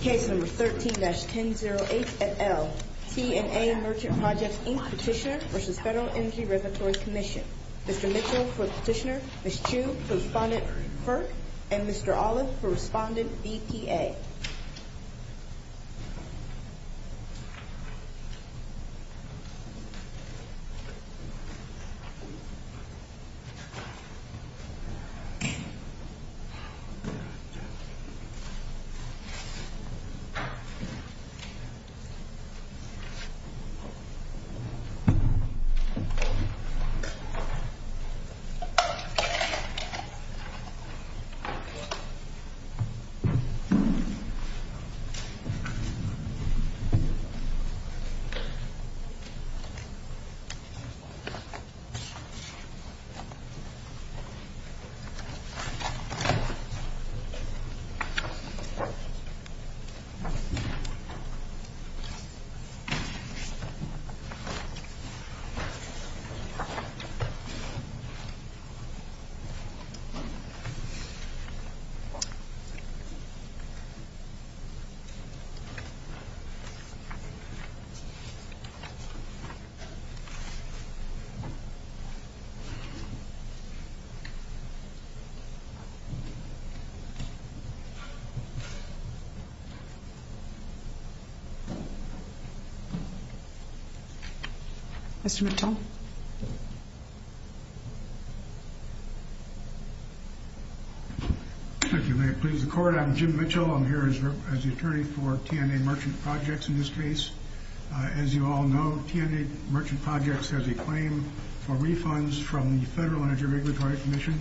Case No. 13-1008 et al., TNA Merchant Projects, Inc. Petitioner v. Federal Energy Reservatory Commission Mr. Mitchell for Petitioner, Ms. Chu for Respondent FERC, and Mr. Olive for Respondent EPA Mr. Mitchell for Petitioner, Ms. Chu for Respondent EPA Mr. Mitchell for Petitioner, Ms. Chu for Respondent EPA Mr. Mitchell for Petitioner, Ms. Chu for Respondent EPA Mr. Mitchell for Petitioner, Ms. Chu for Respondent EPA Mr. Mitchell for Petitioner, Ms. Chu for Respondent EPA Thank you. May it please the Court, I'm Jim Mitchell. I'm here as the attorney for TNA Merchant Projects, in this case. As you all know, TNA Merchant Projects has a claim for refunds from the Federal Energy Regulatory Commission.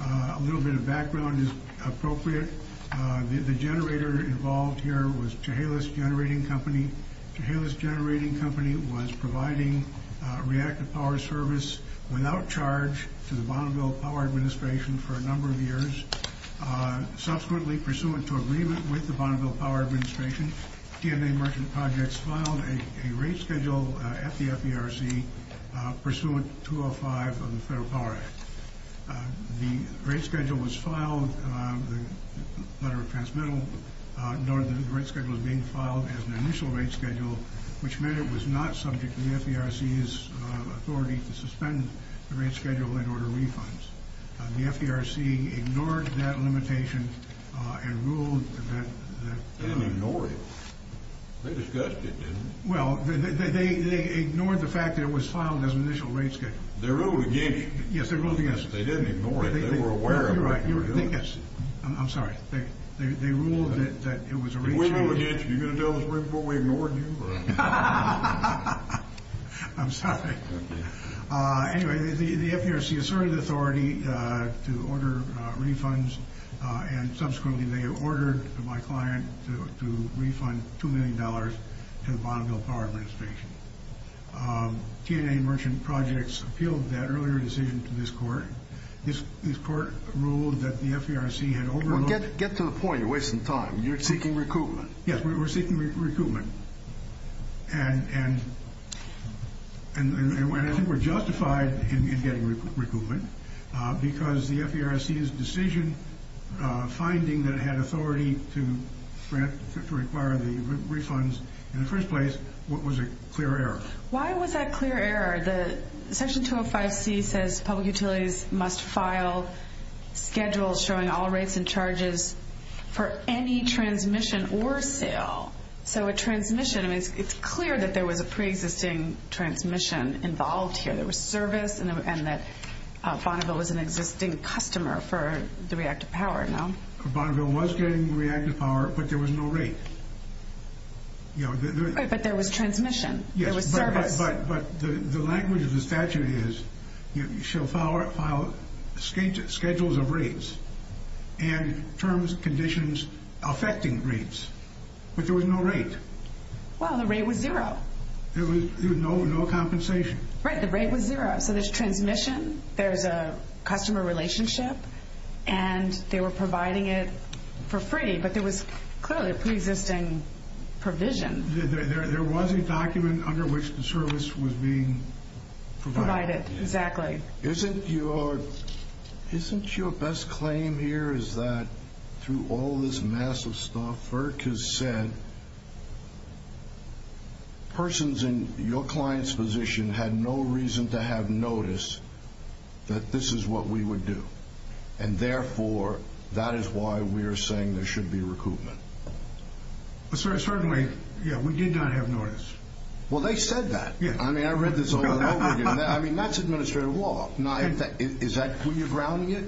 A little bit of background is appropriate. The generator involved here was Chehalis Generating Company. Chehalis Generating Company was providing reactive power service without charge to the Bonneville Power Administration for a number of years. Subsequently, pursuant to agreement with the Bonneville Power Administration, TNA Merchant Projects filed a rate schedule at the FDRC, pursuant to Article 205 of the Federal Power Act. The rate schedule was filed, the letter of transmittal noted that the rate schedule was being filed as an initial rate schedule, which meant it was not subject to the FDRC's authority to suspend the rate schedule and order refunds. The FDRC ignored that limitation and ruled that... They didn't ignore it. They discussed it, didn't they? Well, they ignored the fact that it was filed as an initial rate schedule. They ruled against it. Yes, they ruled against it. They didn't ignore it. They were aware of it. You're right. I'm sorry. They ruled that it was a rate schedule. We ruled against it. You're going to tell us right before we ignored you? I'm sorry. Anyway, the FDRC asserted authority to order refunds, and subsequently they ordered my client to refund $2 million to the Bonneville Power Administration. TNA Merchant Projects appealed that earlier decision to this Court. This Court ruled that the FDRC had overlooked... Well, get to the point. You're wasting time. You're seeking recoupment. Yes, we're seeking recoupment, and I think we're justified in getting recoupment, because the FDRC's decision, finding that it had authority to require the refunds in the first place, was a clear error. Why was that clear error? Section 205C says public utilities must file schedules showing all rates and charges for any transmission or sale. So a transmission, it's clear that there was a pre-existing transmission involved here. There was service, and that Bonneville was an existing customer for the reactive power, no? Bonneville was getting reactive power, but there was no rate. But there was transmission. There was service. But the language of the statute is, you shall file schedules of rates and terms, conditions affecting rates, but there was no rate. Well, the rate was zero. There was no compensation. Right, the rate was zero. So there's transmission, there's a customer relationship, and they were providing it for free, but there was clearly a pre-existing provision. There was a document under which the service was being provided. Provided, exactly. Isn't your best claim here is that through all this massive stuff, FERC has said persons in your client's position had no reason to have notice that this is what we would do, and therefore, that is why we are saying there should be recoupment. Certainly, yeah, we did not have notice. Well, they said that. I mean, I read this all over again. I mean, that's administrative law. Now, is that where you're grounding it?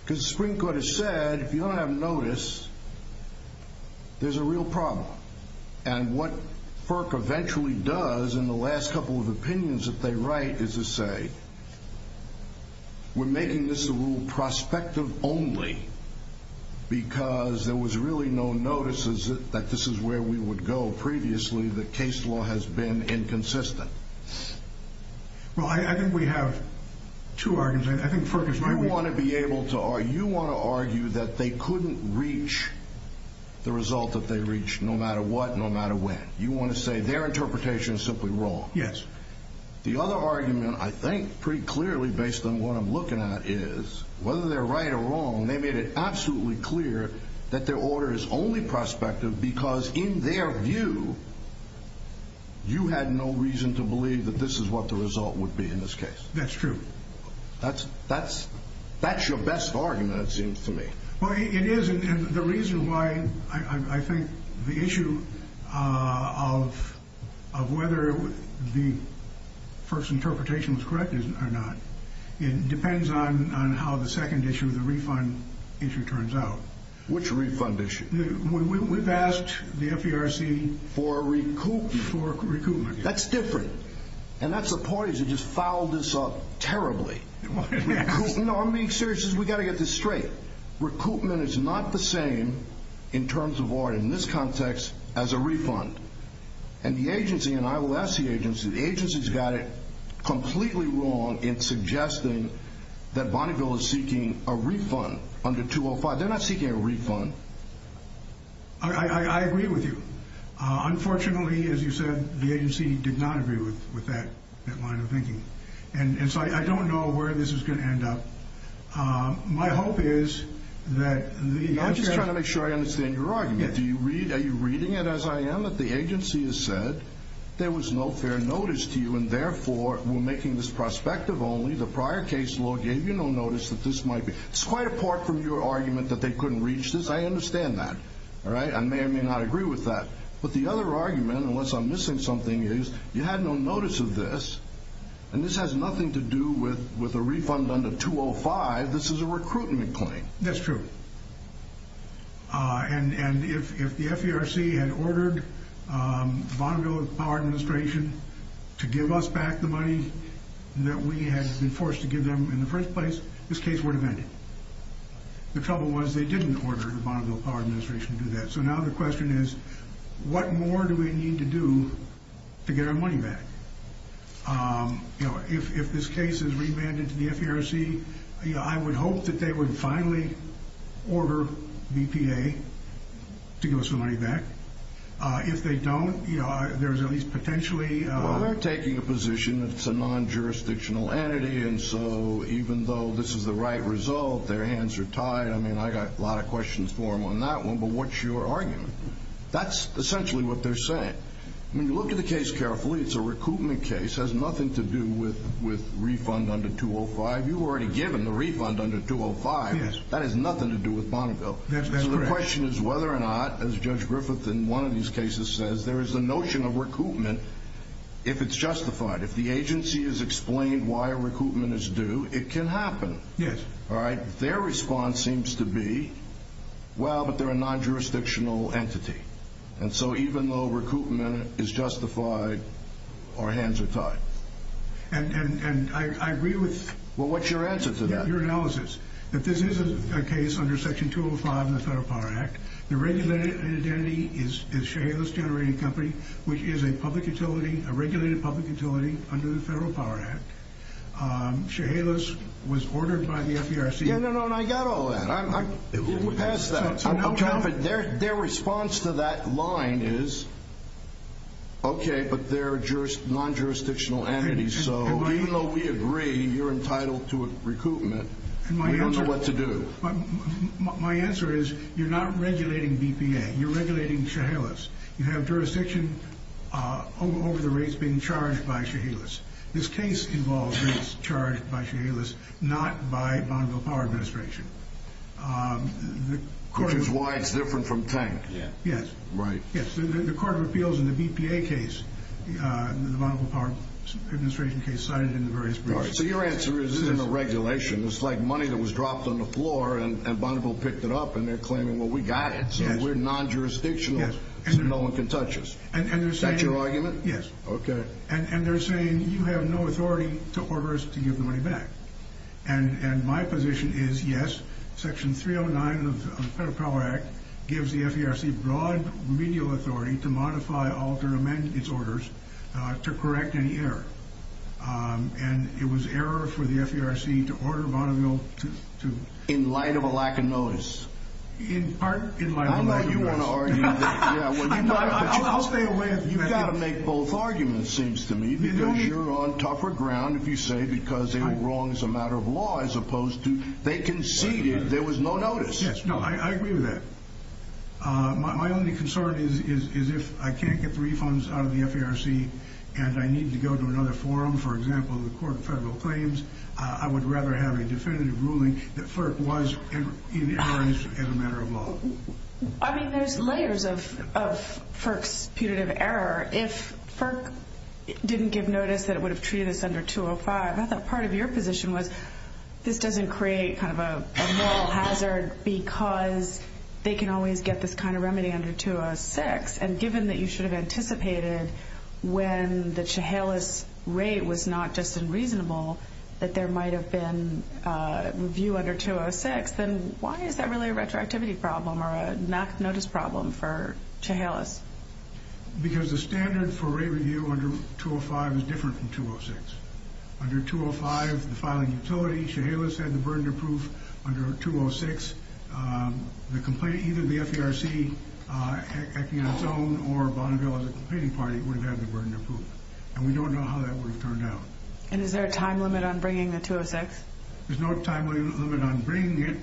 Because the Supreme Court has said if you don't have notice, there's a real problem. And what FERC eventually does in the last couple of opinions that they write is to say, we're making this a rule prospective only because there was really no notices that this is where we would go previously. The case law has been inconsistent. Well, I think we have two arguments. I think FERC is right. You want to argue that they couldn't reach the result that they reached no matter what, no matter when. You want to say their interpretation is simply wrong. Yes. The other argument, I think pretty clearly based on what I'm looking at, is whether they're right or wrong, they made it absolutely clear that their order is only prospective because in their view, you had no reason to believe that this is what the result would be in this case. That's true. That's your best argument, it seems to me. Well, it is, and the reason why I think the issue of whether the first interpretation was correct or not, it depends on how the second issue, the refund issue, turns out. Which refund issue? We've asked the FERC for recoupment. That's different. And that's the point, is it just fouled us up terribly. No, I'm being serious. We've got to get this straight. Recoupment is not the same in terms of what, in this context, as a refund. And the agency, and I will ask the agency, the agency's got it completely wrong in suggesting that Bonneville is seeking a refund under 205. They're not seeking a refund. I agree with you. Unfortunately, as you said, the agency did not agree with that line of thinking. And so I don't know where this is going to end up. My hope is that the agency— I'm just trying to make sure I understand your argument. Are you reading it as I am, that the agency has said there was no fair notice to you, and therefore we're making this prospective only. The prior case law gave you no notice that this might be. It's quite apart from your argument that they couldn't reach this. I understand that. I may or may not agree with that. But the other argument, unless I'm missing something, is you had no notice of this, and this has nothing to do with a refund under 205. This is a recruitment claim. That's true. And if the FERC had ordered the Bonneville Power Administration to give us back the money that we had been forced to give them in the first place, this case would have ended. The trouble was they didn't order the Bonneville Power Administration to do that. So now the question is, what more do we need to do to get our money back? If this case is remanded to the FERC, I would hope that they would finally order BPA to give us the money back. If they don't, there's at least potentially— Well, they're taking a position that it's a non-jurisdictional entity, and so even though this is the right result, their hands are tied. I mean, I got a lot of questions for them on that one. But what's your argument? That's essentially what they're saying. When you look at the case carefully, it's a recruitment case. It has nothing to do with refund under 205. You've already given the refund under 205. That has nothing to do with Bonneville. So the question is whether or not, as Judge Griffith in one of these cases says, there is a notion of recruitment if it's justified. If the agency has explained why a recruitment is due, it can happen. Their response seems to be, well, but they're a non-jurisdictional entity. And so even though recruitment is justified, our hands are tied. And I agree with— Well, what's your answer to that? Your analysis. If this is a case under Section 205 of the Federal Power Act, the regulated entity is Chehalis Generating Company, which is a regulated public utility under the Federal Power Act. Chehalis was ordered by the FDRC— Yeah, no, no, and I got all that. Who has that? I'm confident their response to that line is, okay, but they're a non-jurisdictional entity. So even though we agree you're entitled to a recruitment, we don't know what to do. My answer is you're not regulating BPA. You're regulating Chehalis. You have jurisdiction over the rates being charged by Chehalis. This case involves rates charged by Chehalis, not by Bonneville Power Administration. Which is why it's different from Tank. Yes. Right. Yes, the court of appeals in the BPA case, the Bonneville Power Administration case, cited in the various briefs. So your answer is this isn't a regulation. It's like money that was dropped on the floor, and Bonneville picked it up, and they're claiming, well, we got it, so we're non-jurisdictional, so no one can touch us. Is that your argument? Yes. Okay. And they're saying you have no authority to order us to give the money back. And my position is, yes, Section 309 of the Federal Power Act gives the FERC broad remedial authority to modify, alter, amend its orders to correct any error. And it was error for the FERC to order Bonneville to... In light of a lack of notice. In part, in light of a lack of notice. I know you want to argue that... I'll stay away. You've got to make both arguments, seems to me, because you're on tougher ground if you say because they were wrong as a matter of law as opposed to they conceded there was no notice. Yes. No, I agree with that. My only concern is if I can't get the refunds out of the FERC and I need to go to another forum, for example, the Court of Federal Claims, I would rather have a definitive ruling that FERC was in error as a matter of law. I mean, there's layers of FERC's punitive error. If FERC didn't give notice that it would have treated us under 205, I thought part of your position was this doesn't create kind of a moral hazard because they can always get this kind of remedy under 206. And given that you should have anticipated when the Chehalis rate was not just unreasonable that there might have been review under 206, then why is that really a retroactivity problem or a knock-notice problem for Chehalis? Because the standard for rate review under 205 is different from 206. Under 205, the filing utility, Chehalis had the burden of proof. Under 206, either the FERC acting on its own or Bonneville as a competing party would have had the burden of proof. And we don't know how that would have turned out. And is there a time limit on bringing the 206? There's no time limit on bringing it.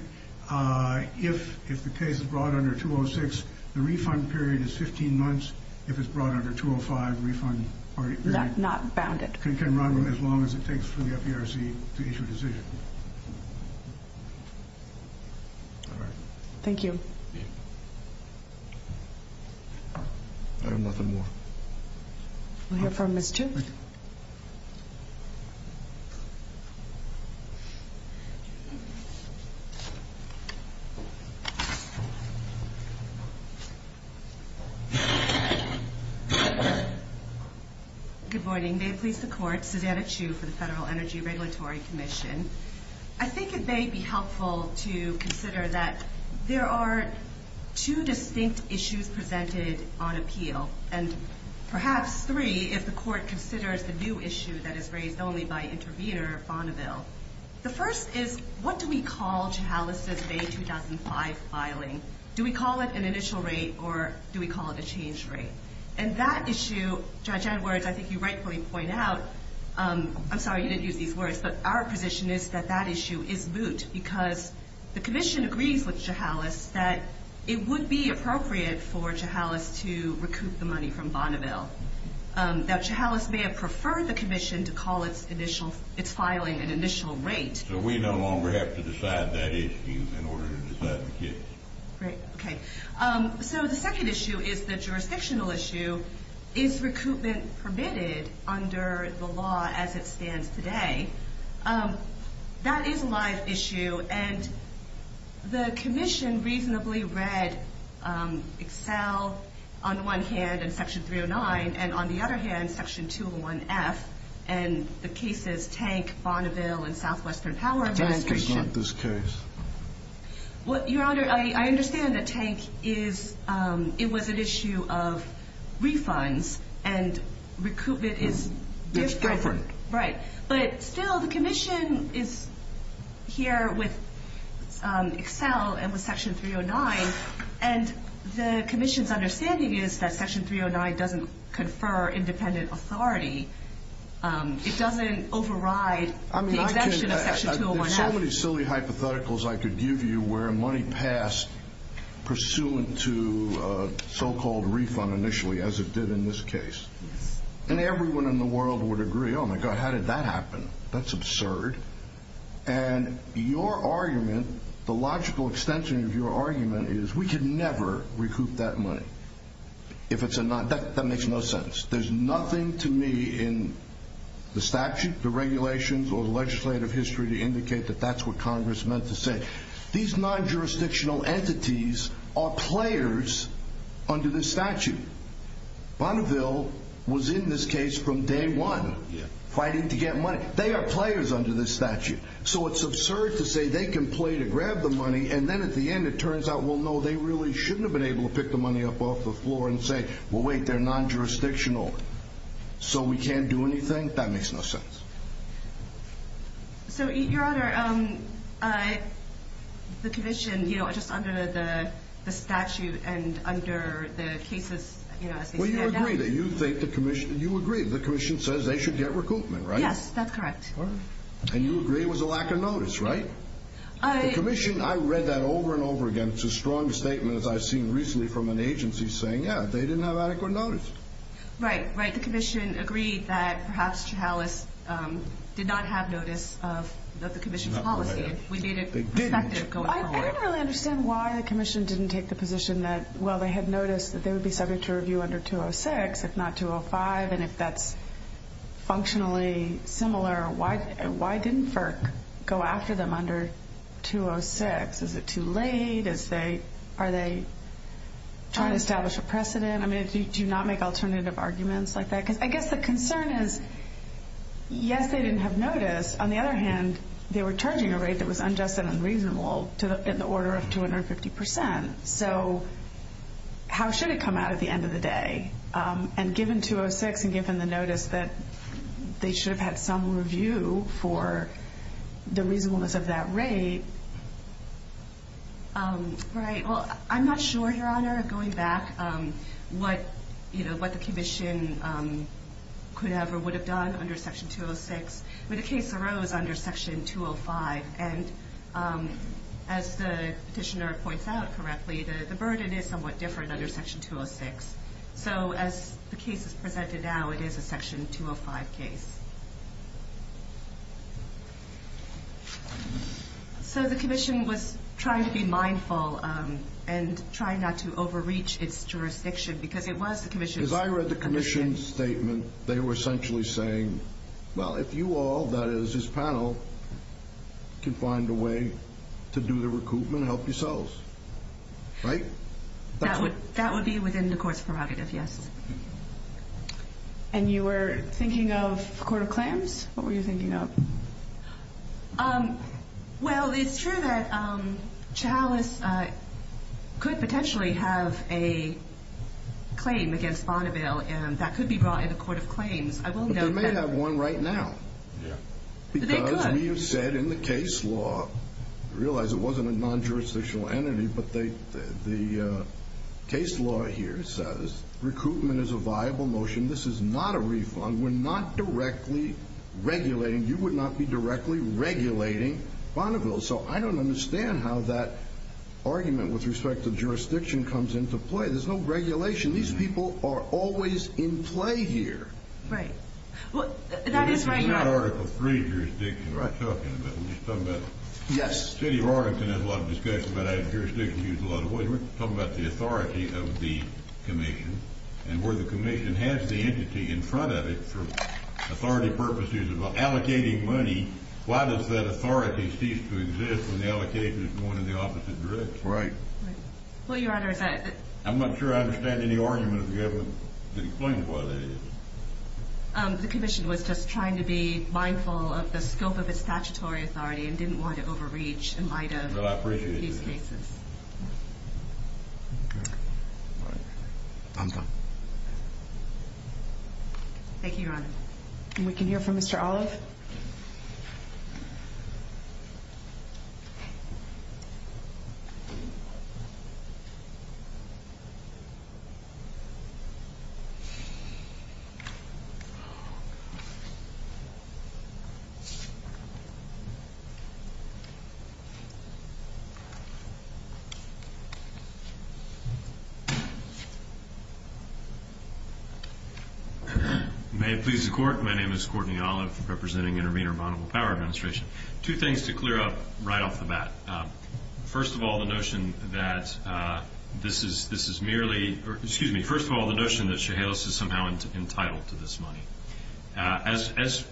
If the case is brought under 206, the refund period is 15 months. If it's brought under 205, the refund period can run as long as it takes for the FERC to issue a decision. All right. Thank you. I have nothing more. We'll hear from Ms. Chitwood. Good morning. May it please the Court. Susanna Chu for the Federal Energy Regulatory Commission. I think it may be helpful to consider that there are two distinct issues presented on appeal. And perhaps three if the Court considers the new issue that is raised only by Intervenor Bonneville. The first is what do we call Chehalis's May 2005 filing? Do we call it an initial rate or do we call it a change rate? And that issue, Judge Edwards, I think you rightfully point out, I'm sorry you didn't use these words, but our position is that that issue is moot because the Commission agrees with Chehalis that it would be appropriate for Chehalis to recoup the money from Bonneville. That Chehalis may have preferred the Commission to call its filing an initial rate. So we no longer have to decide that issue in order to decide the case. Great. Okay. So the second issue is the jurisdictional issue. Is recoupment permitted under the law as it stands today? That is a live issue, and the Commission reasonably read Excel on the one hand and Section 309, and on the other hand Section 201F and the cases Tank, Bonneville, and Southwestern Power Administration. That is not this case. Your Honor, I understand that Tank was an issue of refunds, and recoupment is different. Right. But still the Commission is here with Excel and with Section 309, and the Commission's understanding is that Section 309 doesn't confer independent authority. It doesn't override the exemption of Section 201F. There are so many silly hypotheticals I could give you where money passed pursuant to so-called refund initially, as it did in this case. Yes. And everyone in the world would agree, oh, my God, how did that happen? That's absurd. And your argument, the logical extension of your argument is we could never recoup that money. If it's a non—that makes no sense. There's nothing to me in the statute, the regulations, or the legislative history to indicate that that's what Congress meant to say. These non-jurisdictional entities are players under this statute. Bonneville was in this case from day one fighting to get money. They are players under this statute. So it's absurd to say they can play to grab the money, and then at the end it turns out, well, no, they really shouldn't have been able to pick the money up off the floor and say, well, wait, they're non-jurisdictional, so we can't do anything. That makes no sense. So, Your Honor, the commission, you know, just under the statute and under the cases, you know, as they stand out. Well, you agree that you think the commission—you agree the commission says they should get recoupment, right? Yes, that's correct. And you agree it was a lack of notice, right? The commission—I read that over and over again. It's a strong statement, as I've seen recently from an agency saying, yeah, they didn't have adequate notice. Right, right. I think the commission agreed that perhaps Chihalas did not have notice of the commission's policy. We made it effective going forward. I don't really understand why the commission didn't take the position that, well, they had noticed that they would be subject to review under 206, if not 205, and if that's functionally similar, why didn't FERC go after them under 206? Is it too late? Are they trying to establish a precedent? I mean, do you not make alternative arguments like that? Because I guess the concern is, yes, they didn't have notice. On the other hand, they were charging a rate that was unjust and unreasonable in the order of 250 percent. So how should it come out at the end of the day? And given 206 and given the notice that they should have had some review for the reasonableness of that rate— Right. Well, I'm not sure, Your Honor, going back, what the commission could have or would have done under Section 206. But a case arose under Section 205, and as the petitioner points out correctly, the burden is somewhat different under Section 206. So as the case is presented now, it is a Section 205 case. So the commission was trying to be mindful and trying not to overreach its jurisdiction because it was the commission's— As I read the commission's statement, they were essentially saying, well, if you all, that is, this panel, can find a way to do the recoupment, help yourselves. Right? That would be within the Court's prerogative, yes. And you were thinking of the Court of Claims? What were you thinking of? Well, it's true that Chalice could potentially have a claim against Bonneville, and that could be brought in the Court of Claims. I will note that. But they may have one right now. Yeah. But they could. Because we have said in the case law—I realize it wasn't a non-jurisdictional entity, but the case law here says recoupment is a viable motion. This is not a refund. We're not directly regulating. You would not be directly regulating Bonneville. So I don't understand how that argument with respect to jurisdiction comes into play. There's no regulation. These people are always in play here. Right. Well, that is why— This is not Article III jurisdiction we're talking about. We're just talking about— Yes. The City of Arlington has a lot of discussion about how jurisdiction is used a lot. We're talking about the authority of the commission, and where the commission has the entity in front of it for authority purposes of allocating money, why does that authority cease to exist when the allocation is going in the opposite direction? Right. Well, Your Honor, that— I'm not sure I understand any argument of the government that explains why that is. The commission was just trying to be mindful of the scope of its statutory authority and didn't want to overreach in light of these cases. Well, I appreciate it. Thank you, Your Honor. And we can hear from Mr. Olive. Oh, God. May it please the Court. My name is Courtney Olive, representing Intervenor Vulnerable Power Administration. Two things to clear up right off the bat. First of all, the notion that this is merely— As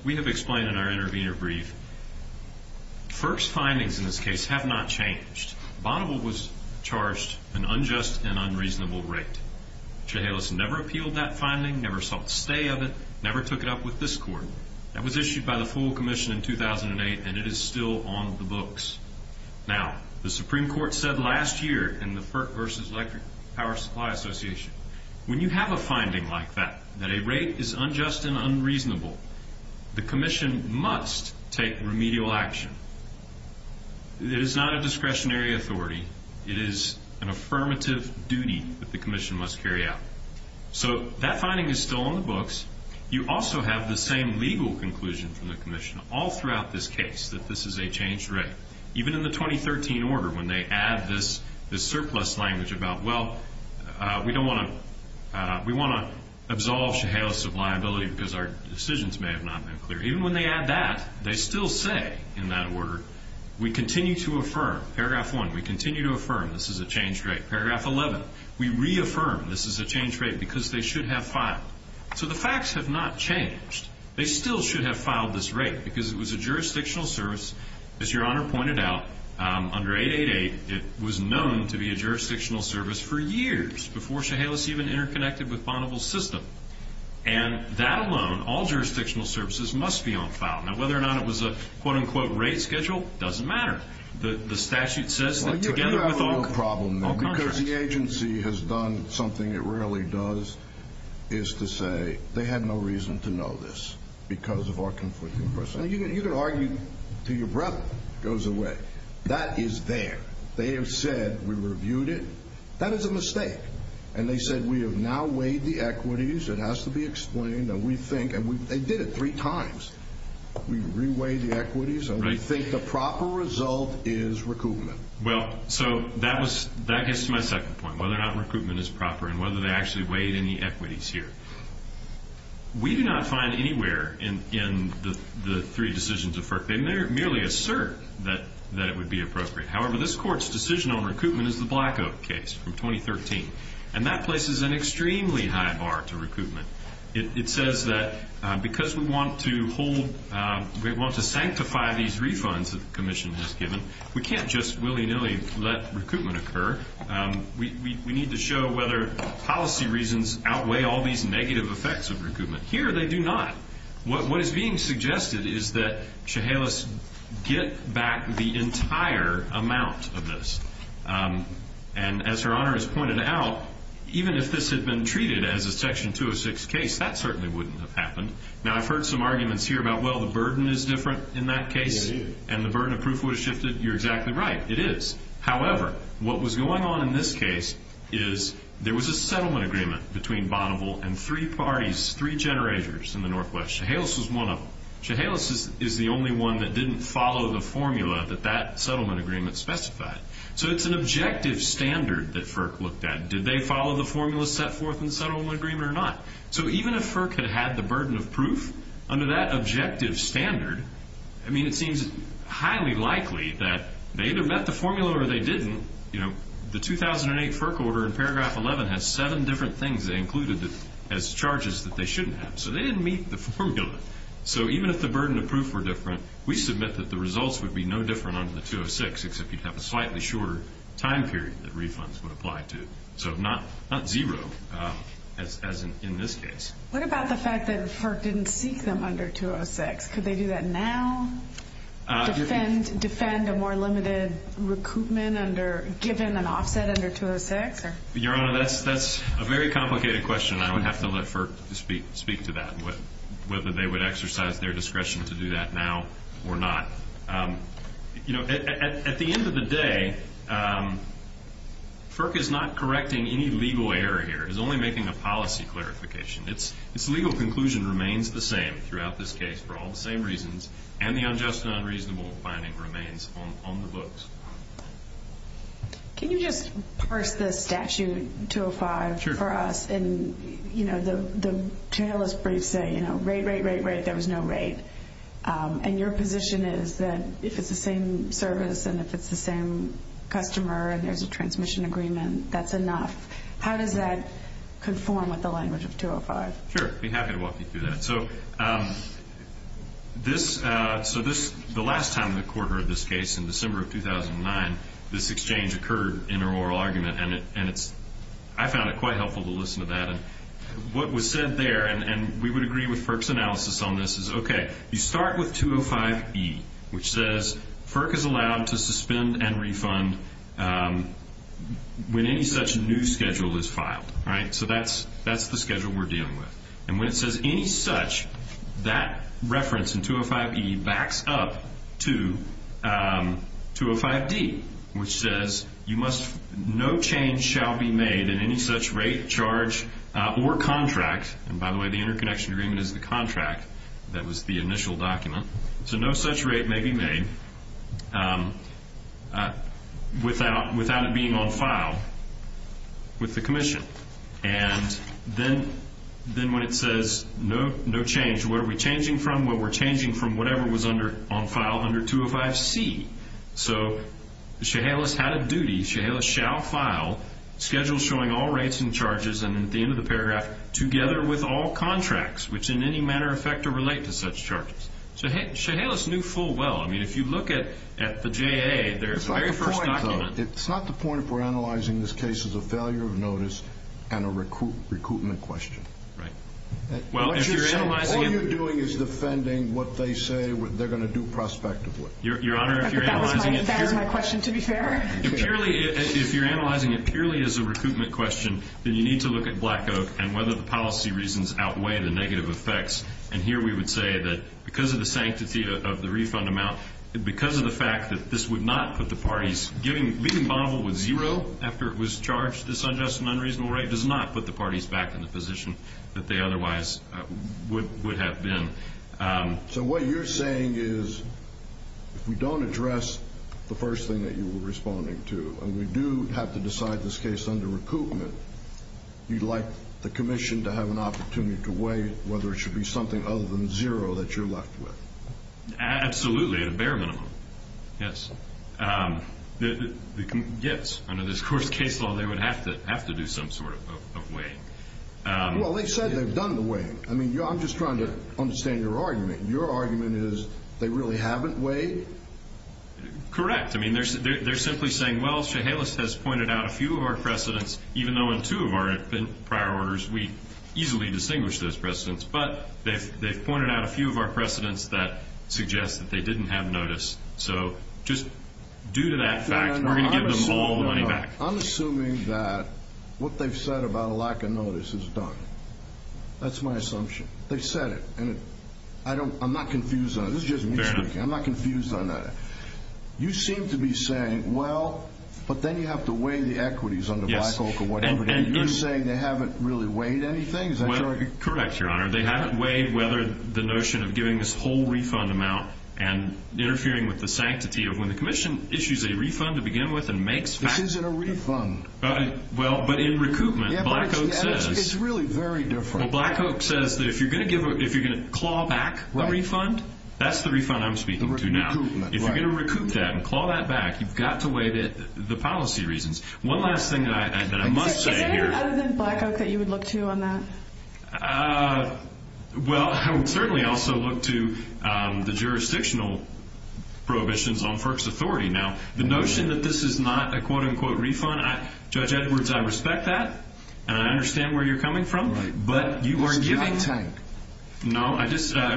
we have explained in our intervenor brief, FERC's findings in this case have not changed. Bonneville was charged an unjust and unreasonable rate. Chehalis never appealed that finding, never sought to stay of it, never took it up with this Court. That was issued by the full commission in 2008, and it is still on the books. Now, the Supreme Court said last year in the FERC v. Electric Power Supply Association, when you have a finding like that, that a rate is unjust and unreasonable, the commission must take remedial action. It is not a discretionary authority. It is an affirmative duty that the commission must carry out. So that finding is still on the books. You also have the same legal conclusion from the commission all throughout this case, that this is a changed rate. Even in the 2013 order, when they add this surplus language about, well, we don't want to—we want to absolve Chehalis of liability because our decisions may have not been clear. Even when they add that, they still say in that order, we continue to affirm. Paragraph 1, we continue to affirm this is a changed rate. Paragraph 11, we reaffirm this is a changed rate because they should have filed. So the facts have not changed. They still should have filed this rate because it was a jurisdictional service. As Your Honor pointed out, under 888, it was known to be a jurisdictional service for years before Chehalis even interconnected with Bonneville's system. And that alone, all jurisdictional services must be on file. Now, whether or not it was a quote-unquote rate schedule doesn't matter. The statute says that together with— Well, you have a real problem there because the agency has done something it rarely does, is to say they had no reason to know this because of our conflicting perception. You can argue until your breath goes away. That is there. They have said we reviewed it. That is a mistake. And they said we have now weighed the equities. It has to be explained. And we think—and they did it three times. We re-weighed the equities, and we think the proper result is recoupment. Well, so that gets to my second point, whether or not recoupment is proper and whether they actually weighed any equities here. We do not find anywhere in the three decisions of FERC, they merely assert that it would be appropriate. However, this Court's decision on recoupment is the Black Oak case from 2013, and that places an extremely high bar to recoupment. It says that because we want to hold—we want to sanctify these refunds that the Commission has given, we can't just willy-nilly let recoupment occur. We need to show whether policy reasons outweigh all these negative effects of recoupment. Here, they do not. What is being suggested is that Chehalis get back the entire amount of this. And as Her Honor has pointed out, even if this had been treated as a Section 206 case, that certainly wouldn't have happened. Now, I've heard some arguments here about, well, the burden is different in that case, and the burden of proof would have shifted. You're exactly right. It is. However, what was going on in this case is there was a settlement agreement between Bonneville and three parties, three generators in the Northwest. Chehalis was one of them. Chehalis is the only one that didn't follow the formula that that settlement agreement specified. So it's an objective standard that FERC looked at. Did they follow the formula set forth in the settlement agreement or not? So even if FERC had had the burden of proof under that objective standard, I mean, it seems highly likely that they either met the formula or they didn't. You know, the 2008 FERC order in paragraph 11 has seven different things they included as charges that they shouldn't have. So they didn't meet the formula. So even if the burden of proof were different, we submit that the results would be no different under the 206, except you'd have a slightly shorter time period that refunds would apply to. So not zero, as in this case. What about the fact that FERC didn't seek them under 206? Could they do that now? Defend a more limited recoupment given an offset under 206? Your Honor, that's a very complicated question. I would have to let FERC speak to that, whether they would exercise their discretion to do that now or not. You know, at the end of the day, FERC is not correcting any legal error here. It's only making a policy clarification. Its legal conclusion remains the same throughout this case for all the same reasons, and the unjust and unreasonable finding remains on the books. Can you just parse this statute, 205, for us? Sure. And, you know, the chalice briefs say, you know, rate, rate, rate, rate. There was no rate. And your position is that if it's the same service and if it's the same customer and there's a transmission agreement, that's enough. How does that conform with the language of 205? Sure. I'd be happy to walk you through that. So the last time the Court heard this case in December of 2009, this exchange occurred in an oral argument, and I found it quite helpful to listen to that. What was said there, and we would agree with FERC's analysis on this, is, okay, you start with 205E, which says, FERC is allowed to suspend and refund when any such new schedule is filed, right? So that's the schedule we're dealing with. And when it says any such, that reference in 205E backs up to 205D, which says no change shall be made in any such rate, charge, or contract. And, by the way, the interconnection agreement is the contract that was the initial document. So no such rate may be made without it being on file with the Commission. And then when it says no change, what are we changing from? Well, we're changing from whatever was on file under 205C. So Chehalis had a duty, Chehalis shall file schedules showing all rates and charges, and at the end of the paragraph, together with all contracts, which in any manner affect or relate to such charges. So Chehalis knew full well. I mean, if you look at the JA, their very first document. It's not the point if we're analyzing this case as a failure of notice and a recoupment question. Right. Well, what you're doing is defending what they say they're going to do prospectively. Your Honor, if you're analyzing it purely as a recoupment question, then you need to look at Black Oak and whether the policy reasons outweigh the negative effects. And here we would say that because of the sanctity of the refund amount, because of the fact that this would not put the parties, leaving Bonneville with zero after it was charged, this unjust and unreasonable rate, does not put the parties back in the position that they otherwise would have been. So what you're saying is if we don't address the first thing that you were responding to, and we do have to decide this case under recoupment, you'd like the commission to have an opportunity to weigh whether it should be something other than zero that you're left with. Absolutely, at a bare minimum. Yes. Yes, under this court's case law, they would have to do some sort of weighing. Well, they've said they've done the weighing. I mean, I'm just trying to understand your argument. Your argument is they really haven't weighed? Correct. They're simply saying, well, Chehalis has pointed out a few of our precedents, even though in two of our prior orders we easily distinguished those precedents. But they've pointed out a few of our precedents that suggest that they didn't have notice. So just due to that fact, we're going to give them all the money back. I'm assuming that what they've said about a lack of notice is done. That's my assumption. They've said it, and I'm not confused on it. This is just me speaking. I'm not confused on that. You seem to be saying, well, but then you have to weigh the equities under Black Oak or whatever. You're saying they haven't really weighed anything. Is that your argument? Correct, Your Honor. They haven't weighed whether the notion of giving this whole refund amount and interfering with the sanctity of when the commission issues a refund to begin with and makes facts. This isn't a refund. Well, but in recoupment, Black Oak says. It's really very different. Well, Black Oak says that if you're going to claw back a refund, that's the refund I'm speaking to now. If you're going to recoup that and claw that back, you've got to weigh the policy reasons. One last thing that I must say here. Is there anything other than Black Oak that you would look to on that? Well, I would certainly also look to the jurisdictional prohibitions on FERC's authority. Now, the notion that this is not a quote-unquote refund, Judge Edwards, I respect that, and I understand where you're coming from, but you are giving. It's giving time. No,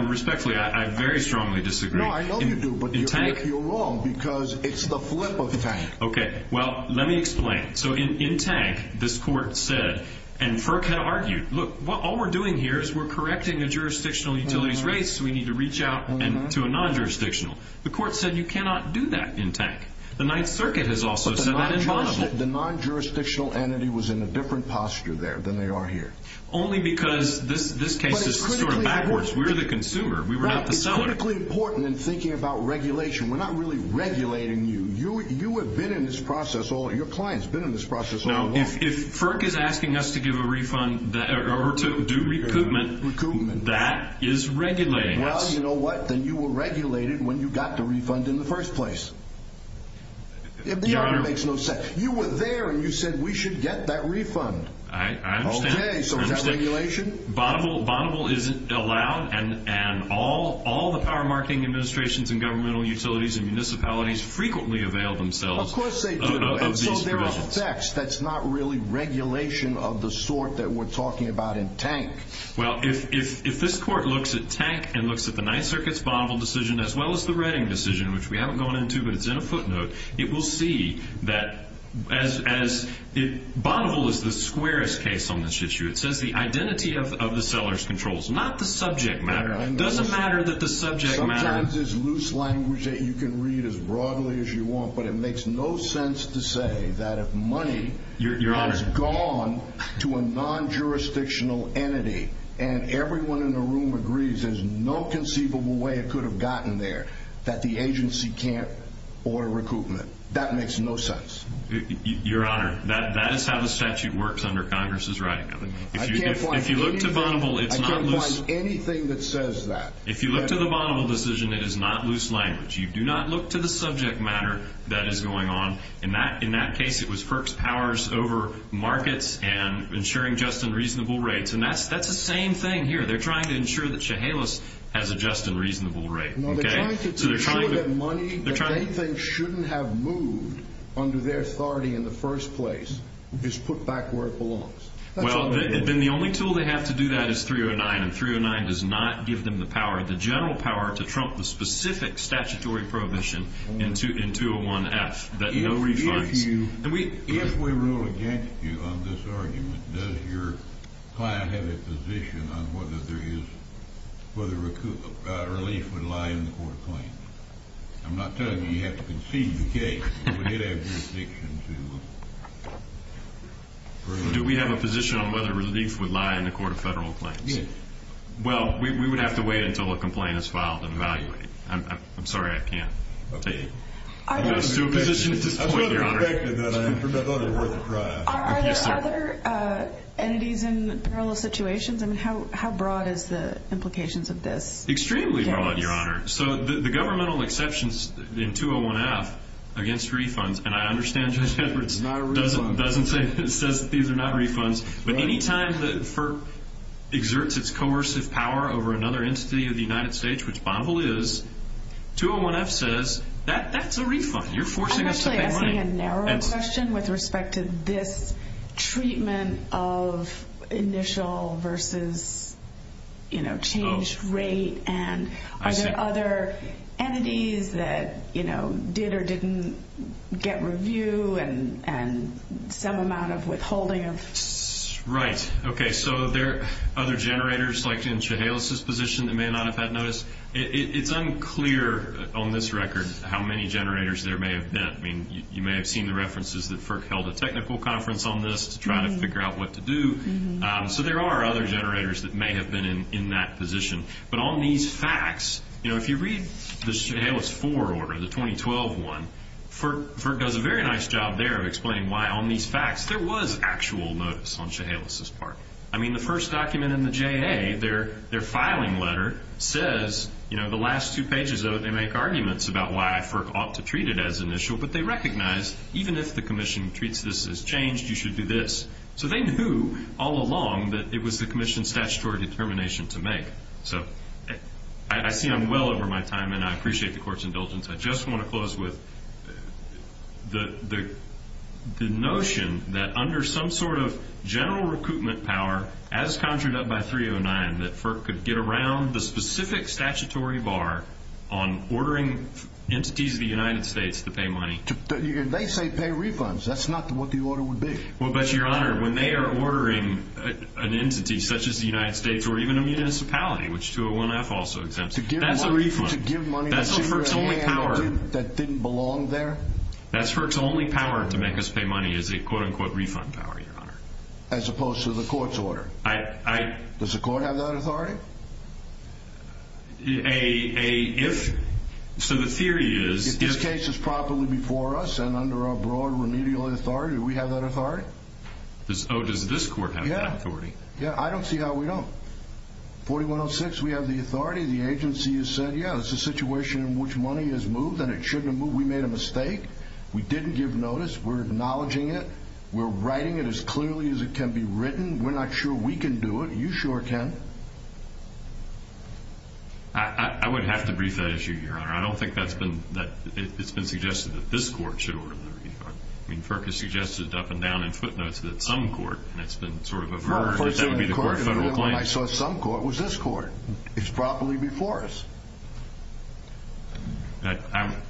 respectfully, I very strongly disagree. No, I know you do, but you're wrong because it's the flip of tank. Okay, well, let me explain. So in tank, this court said, and FERC had argued, look, all we're doing here is we're correcting a jurisdictional utility's rates, so we need to reach out to a non-jurisdictional. The court said you cannot do that in tank. The Ninth Circuit has also said that in Bonneville. But the non-jurisdictional entity was in a different posture there than they are here. Only because this case is sort of backwards. We're the consumer. We were not the seller. It's critically important in thinking about regulation. We're not really regulating you. You have been in this process all along. Your client's been in this process all along. Now, if FERC is asking us to give a refund or to do recoupment, that is regulating us. Well, you know what? Then you were regulated when you got the refund in the first place. Your Honor. It makes no sense. You were there, and you said we should get that refund. I understand. Okay, so is that regulation? Bonneville isn't allowed. And all the power marketing administrations and governmental utilities and municipalities frequently avail themselves of these provisions. Of course they do. And so there are effects. That's not really regulation of the sort that we're talking about in tank. Well, if this court looks at tank and looks at the Ninth Circuit's Bonneville decision as well as the Redding decision, which we haven't gone into, but it's in a footnote, it will see that Bonneville is the squarest case on this issue. It says the identity of the seller's controls, not the subject matter. It doesn't matter that the subject matter. Sometimes it's loose language that you can read as broadly as you want, but it makes no sense to say that if money has gone to a non-jurisdictional entity and everyone in the room agrees there's no conceivable way it could have gotten there, that the agency can't order recoupment. That makes no sense. Your Honor, that is how the statute works under Congress's writing. If you look to Bonneville, it's not loose. I can't find anything that says that. If you look to the Bonneville decision, it is not loose language. You do not look to the subject matter that is going on. In that case, it was FERC's powers over markets and ensuring just and reasonable rates. And that's the same thing here. They're trying to ensure that Chehalis has a just and reasonable rate. They're trying to ensure that money that they think shouldn't have moved under their authority in the first place is put back where it belongs. Well, then the only tool they have to do that is 309, and 309 does not give them the power, the general power, to trump the specific statutory prohibition in 201F that no refunds. If we rule against you on this argument, does your client have a position on whether relief would lie in the court of claims? I'm not telling you you have to concede the case. Would it have jurisdiction to approve? Do we have a position on whether relief would lie in the court of federal claims? Yes. Well, we would have to wait until a complaint is filed and evaluate. I'm sorry I can't tell you. Are there other entities in parallel situations? I mean, how broad is the implications of this? Extremely broad, Your Honor. So the governmental exceptions in 201F against refunds, and I understand Judge Edwards doesn't say that these are not refunds, but any time that FERC exerts its coercive power over another entity of the United States, which Bonvol is, 201F says that's a refund. You're forcing us to pay money. I'm actually asking a narrower question with respect to this treatment of initial versus changed rate, and are there other entities that did or didn't get review and some amount of withholding? Right. Okay, so there are other generators, like in Chehalis's position, that may not have had notice. It's unclear on this record how many generators there may have been. I mean, you may have seen the references that FERC held a technical conference on this to try to figure out what to do. So there are other generators that may have been in that position. But on these facts, you know, if you read the Chehalis 4 order, the 2012 one, FERC does a very nice job there of explaining why on these facts there was actual notice on Chehalis's part. I mean, the first document in the JA, their filing letter, says, you know, the last two pages of it they make arguments about why FERC ought to treat it as initial, but they recognize even if the commission treats this as changed, you should do this. So they knew all along that it was the commission's statutory determination to make. So I see I'm well over my time, and I appreciate the court's indulgence. I just want to close with the notion that under some sort of general recoupment power, as conjured up by 309, that FERC could get around the specific statutory bar on ordering entities of the United States to pay money. They say pay refunds. That's not what the order would be. Well, but, Your Honor, when they are ordering an entity such as the United States or even a municipality, which 201F also exempts, that's a refund. To give money to a community that didn't belong there? That's FERC's only power to make us pay money is a quote-unquote refund power, Your Honor. As opposed to the court's order? Does the court have that authority? So the theory is if this case is properly before us and under our broad remedial authority, do we have that authority? Oh, does this court have that authority? Yeah, I don't see how we don't. 4106, we have the authority. The agency has said, yeah, this is a situation in which money is moved and it shouldn't have moved. We made a mistake. We didn't give notice. We're acknowledging it. We're writing it as clearly as it can be written. We're not sure we can do it. You sure can. I would have to brief that issue, Your Honor. I don't think it's been suggested that this court should order the refund. I mean, FERC has suggested up and down in footnotes that some court, and it's been sort of averse, that that would be the court's federal claim. I saw some court was this court. It's properly before us.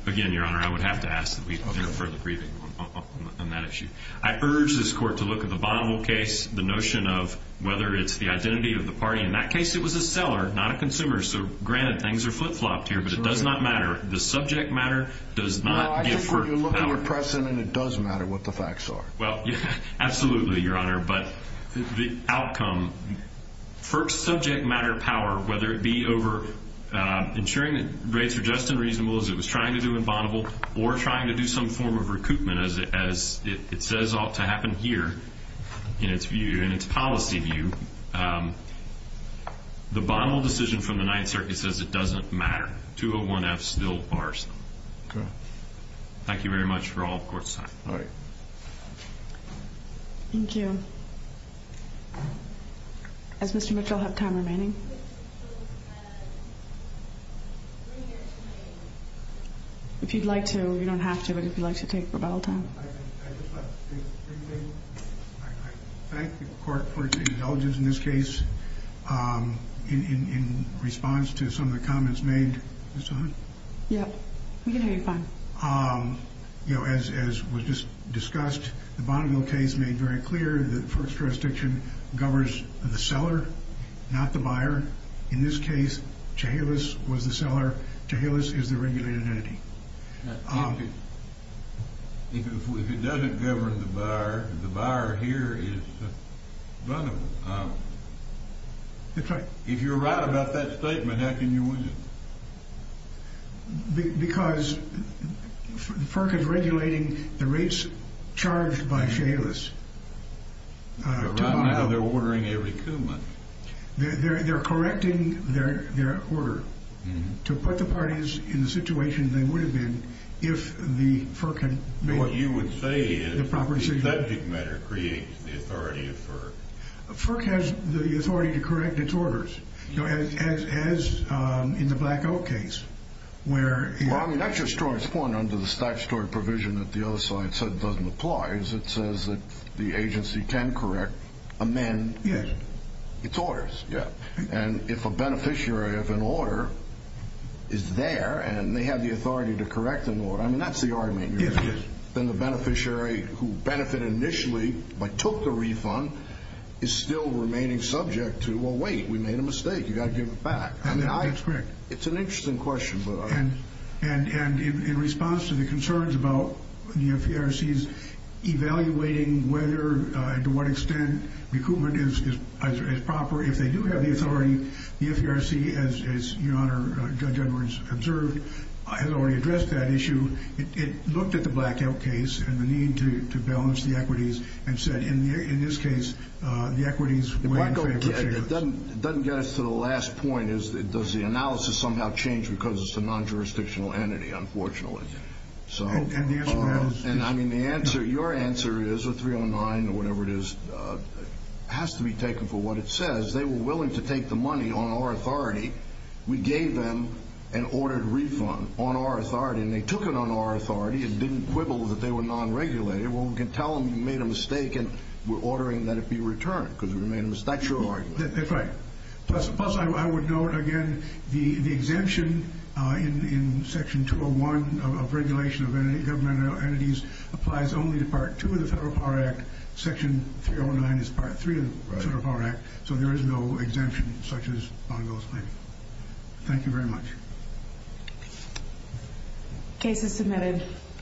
Again, Your Honor, I would have to ask that we do a further briefing on that issue. I urge this court to look at the Bonneville case, the notion of whether it's the identity of the party. In that case, it was a seller, not a consumer. So, granted, things are flip-flopped here, but it does not matter. The subject matter does not give FERC power. No, I think what you're looking at, Preston, and it does matter what the facts are. Well, absolutely, Your Honor. But the outcome, FERC's subject matter power, whether it be over ensuring that rates are just and reasonable, as it was trying to do in Bonneville, or trying to do some form of recoupment, as it says ought to happen here, in its view, in its policy view, the Bonneville decision from the Ninth Circuit says it doesn't matter. 201F still bars them. Okay. Thank you very much for all the court's time. All right. Thank you. Does Mr. Mitchell have time remaining? If you'd like to. You don't have to, but if you'd like to take up all the time. I thank the court for its indulgence in this case in response to some of the comments made. Is this on? Yeah. We can hear you fine. You know, as was just discussed, the Bonneville case made very clear that first jurisdiction governs the seller, not the buyer. In this case, Chehalis was the seller. Chehalis is the regulated entity. If it doesn't govern the buyer, the buyer here is Bonneville. If you're right about that statement, how can you win it? Because FERC is regulating the rates charged by Chehalis. Right now they're ordering every coup month. They're correcting their order to put the parties in the situation they would have been if the FERC had made the proper decision. What you would say is the subject matter creates the authority of FERC. FERC has the authority to correct its orders, as in the Black Oak case. Well, I mean, that's just to respond to the statutory provision that the other side said doesn't apply. It says that the agency can correct, amend its orders. And if a beneficiary of an order is there and they have the authority to correct an order, I mean, that's the argument. Then the beneficiary who benefited initially but took the refund is still remaining subject to, well, wait, we made a mistake. You've got to give it back. It's an interesting question. And in response to the concerns about the FERC's evaluating whether and to what extent recoupment is proper, if they do have the authority, the FERC, as Your Honor, Judge Edwards observed, has already addressed that issue. It looked at the Black Oak case and the need to balance the equities and said, in this case, the equities were in favor. It doesn't get us to the last point. Does the analysis somehow change because it's a non-jurisdictional entity, unfortunately? And the answer to that is yes. And, I mean, your answer is, or 309 or whatever it is, has to be taken for what it says. They were willing to take the money on our authority. We gave them an ordered refund on our authority, and they took it on our authority and didn't quibble that they were non-regulated. Well, we can tell them you made a mistake and we're ordering that it be returned because we made a mistake. That's your argument. That's right. Plus, I would note, again, the exemption in Section 201 of regulation of government entities applies only to Part 2 of the Federal Power Act. Section 309 is Part 3 of the Federal Power Act, so there is no exemption such as Bongo's claim. Thank you very much. Case is submitted.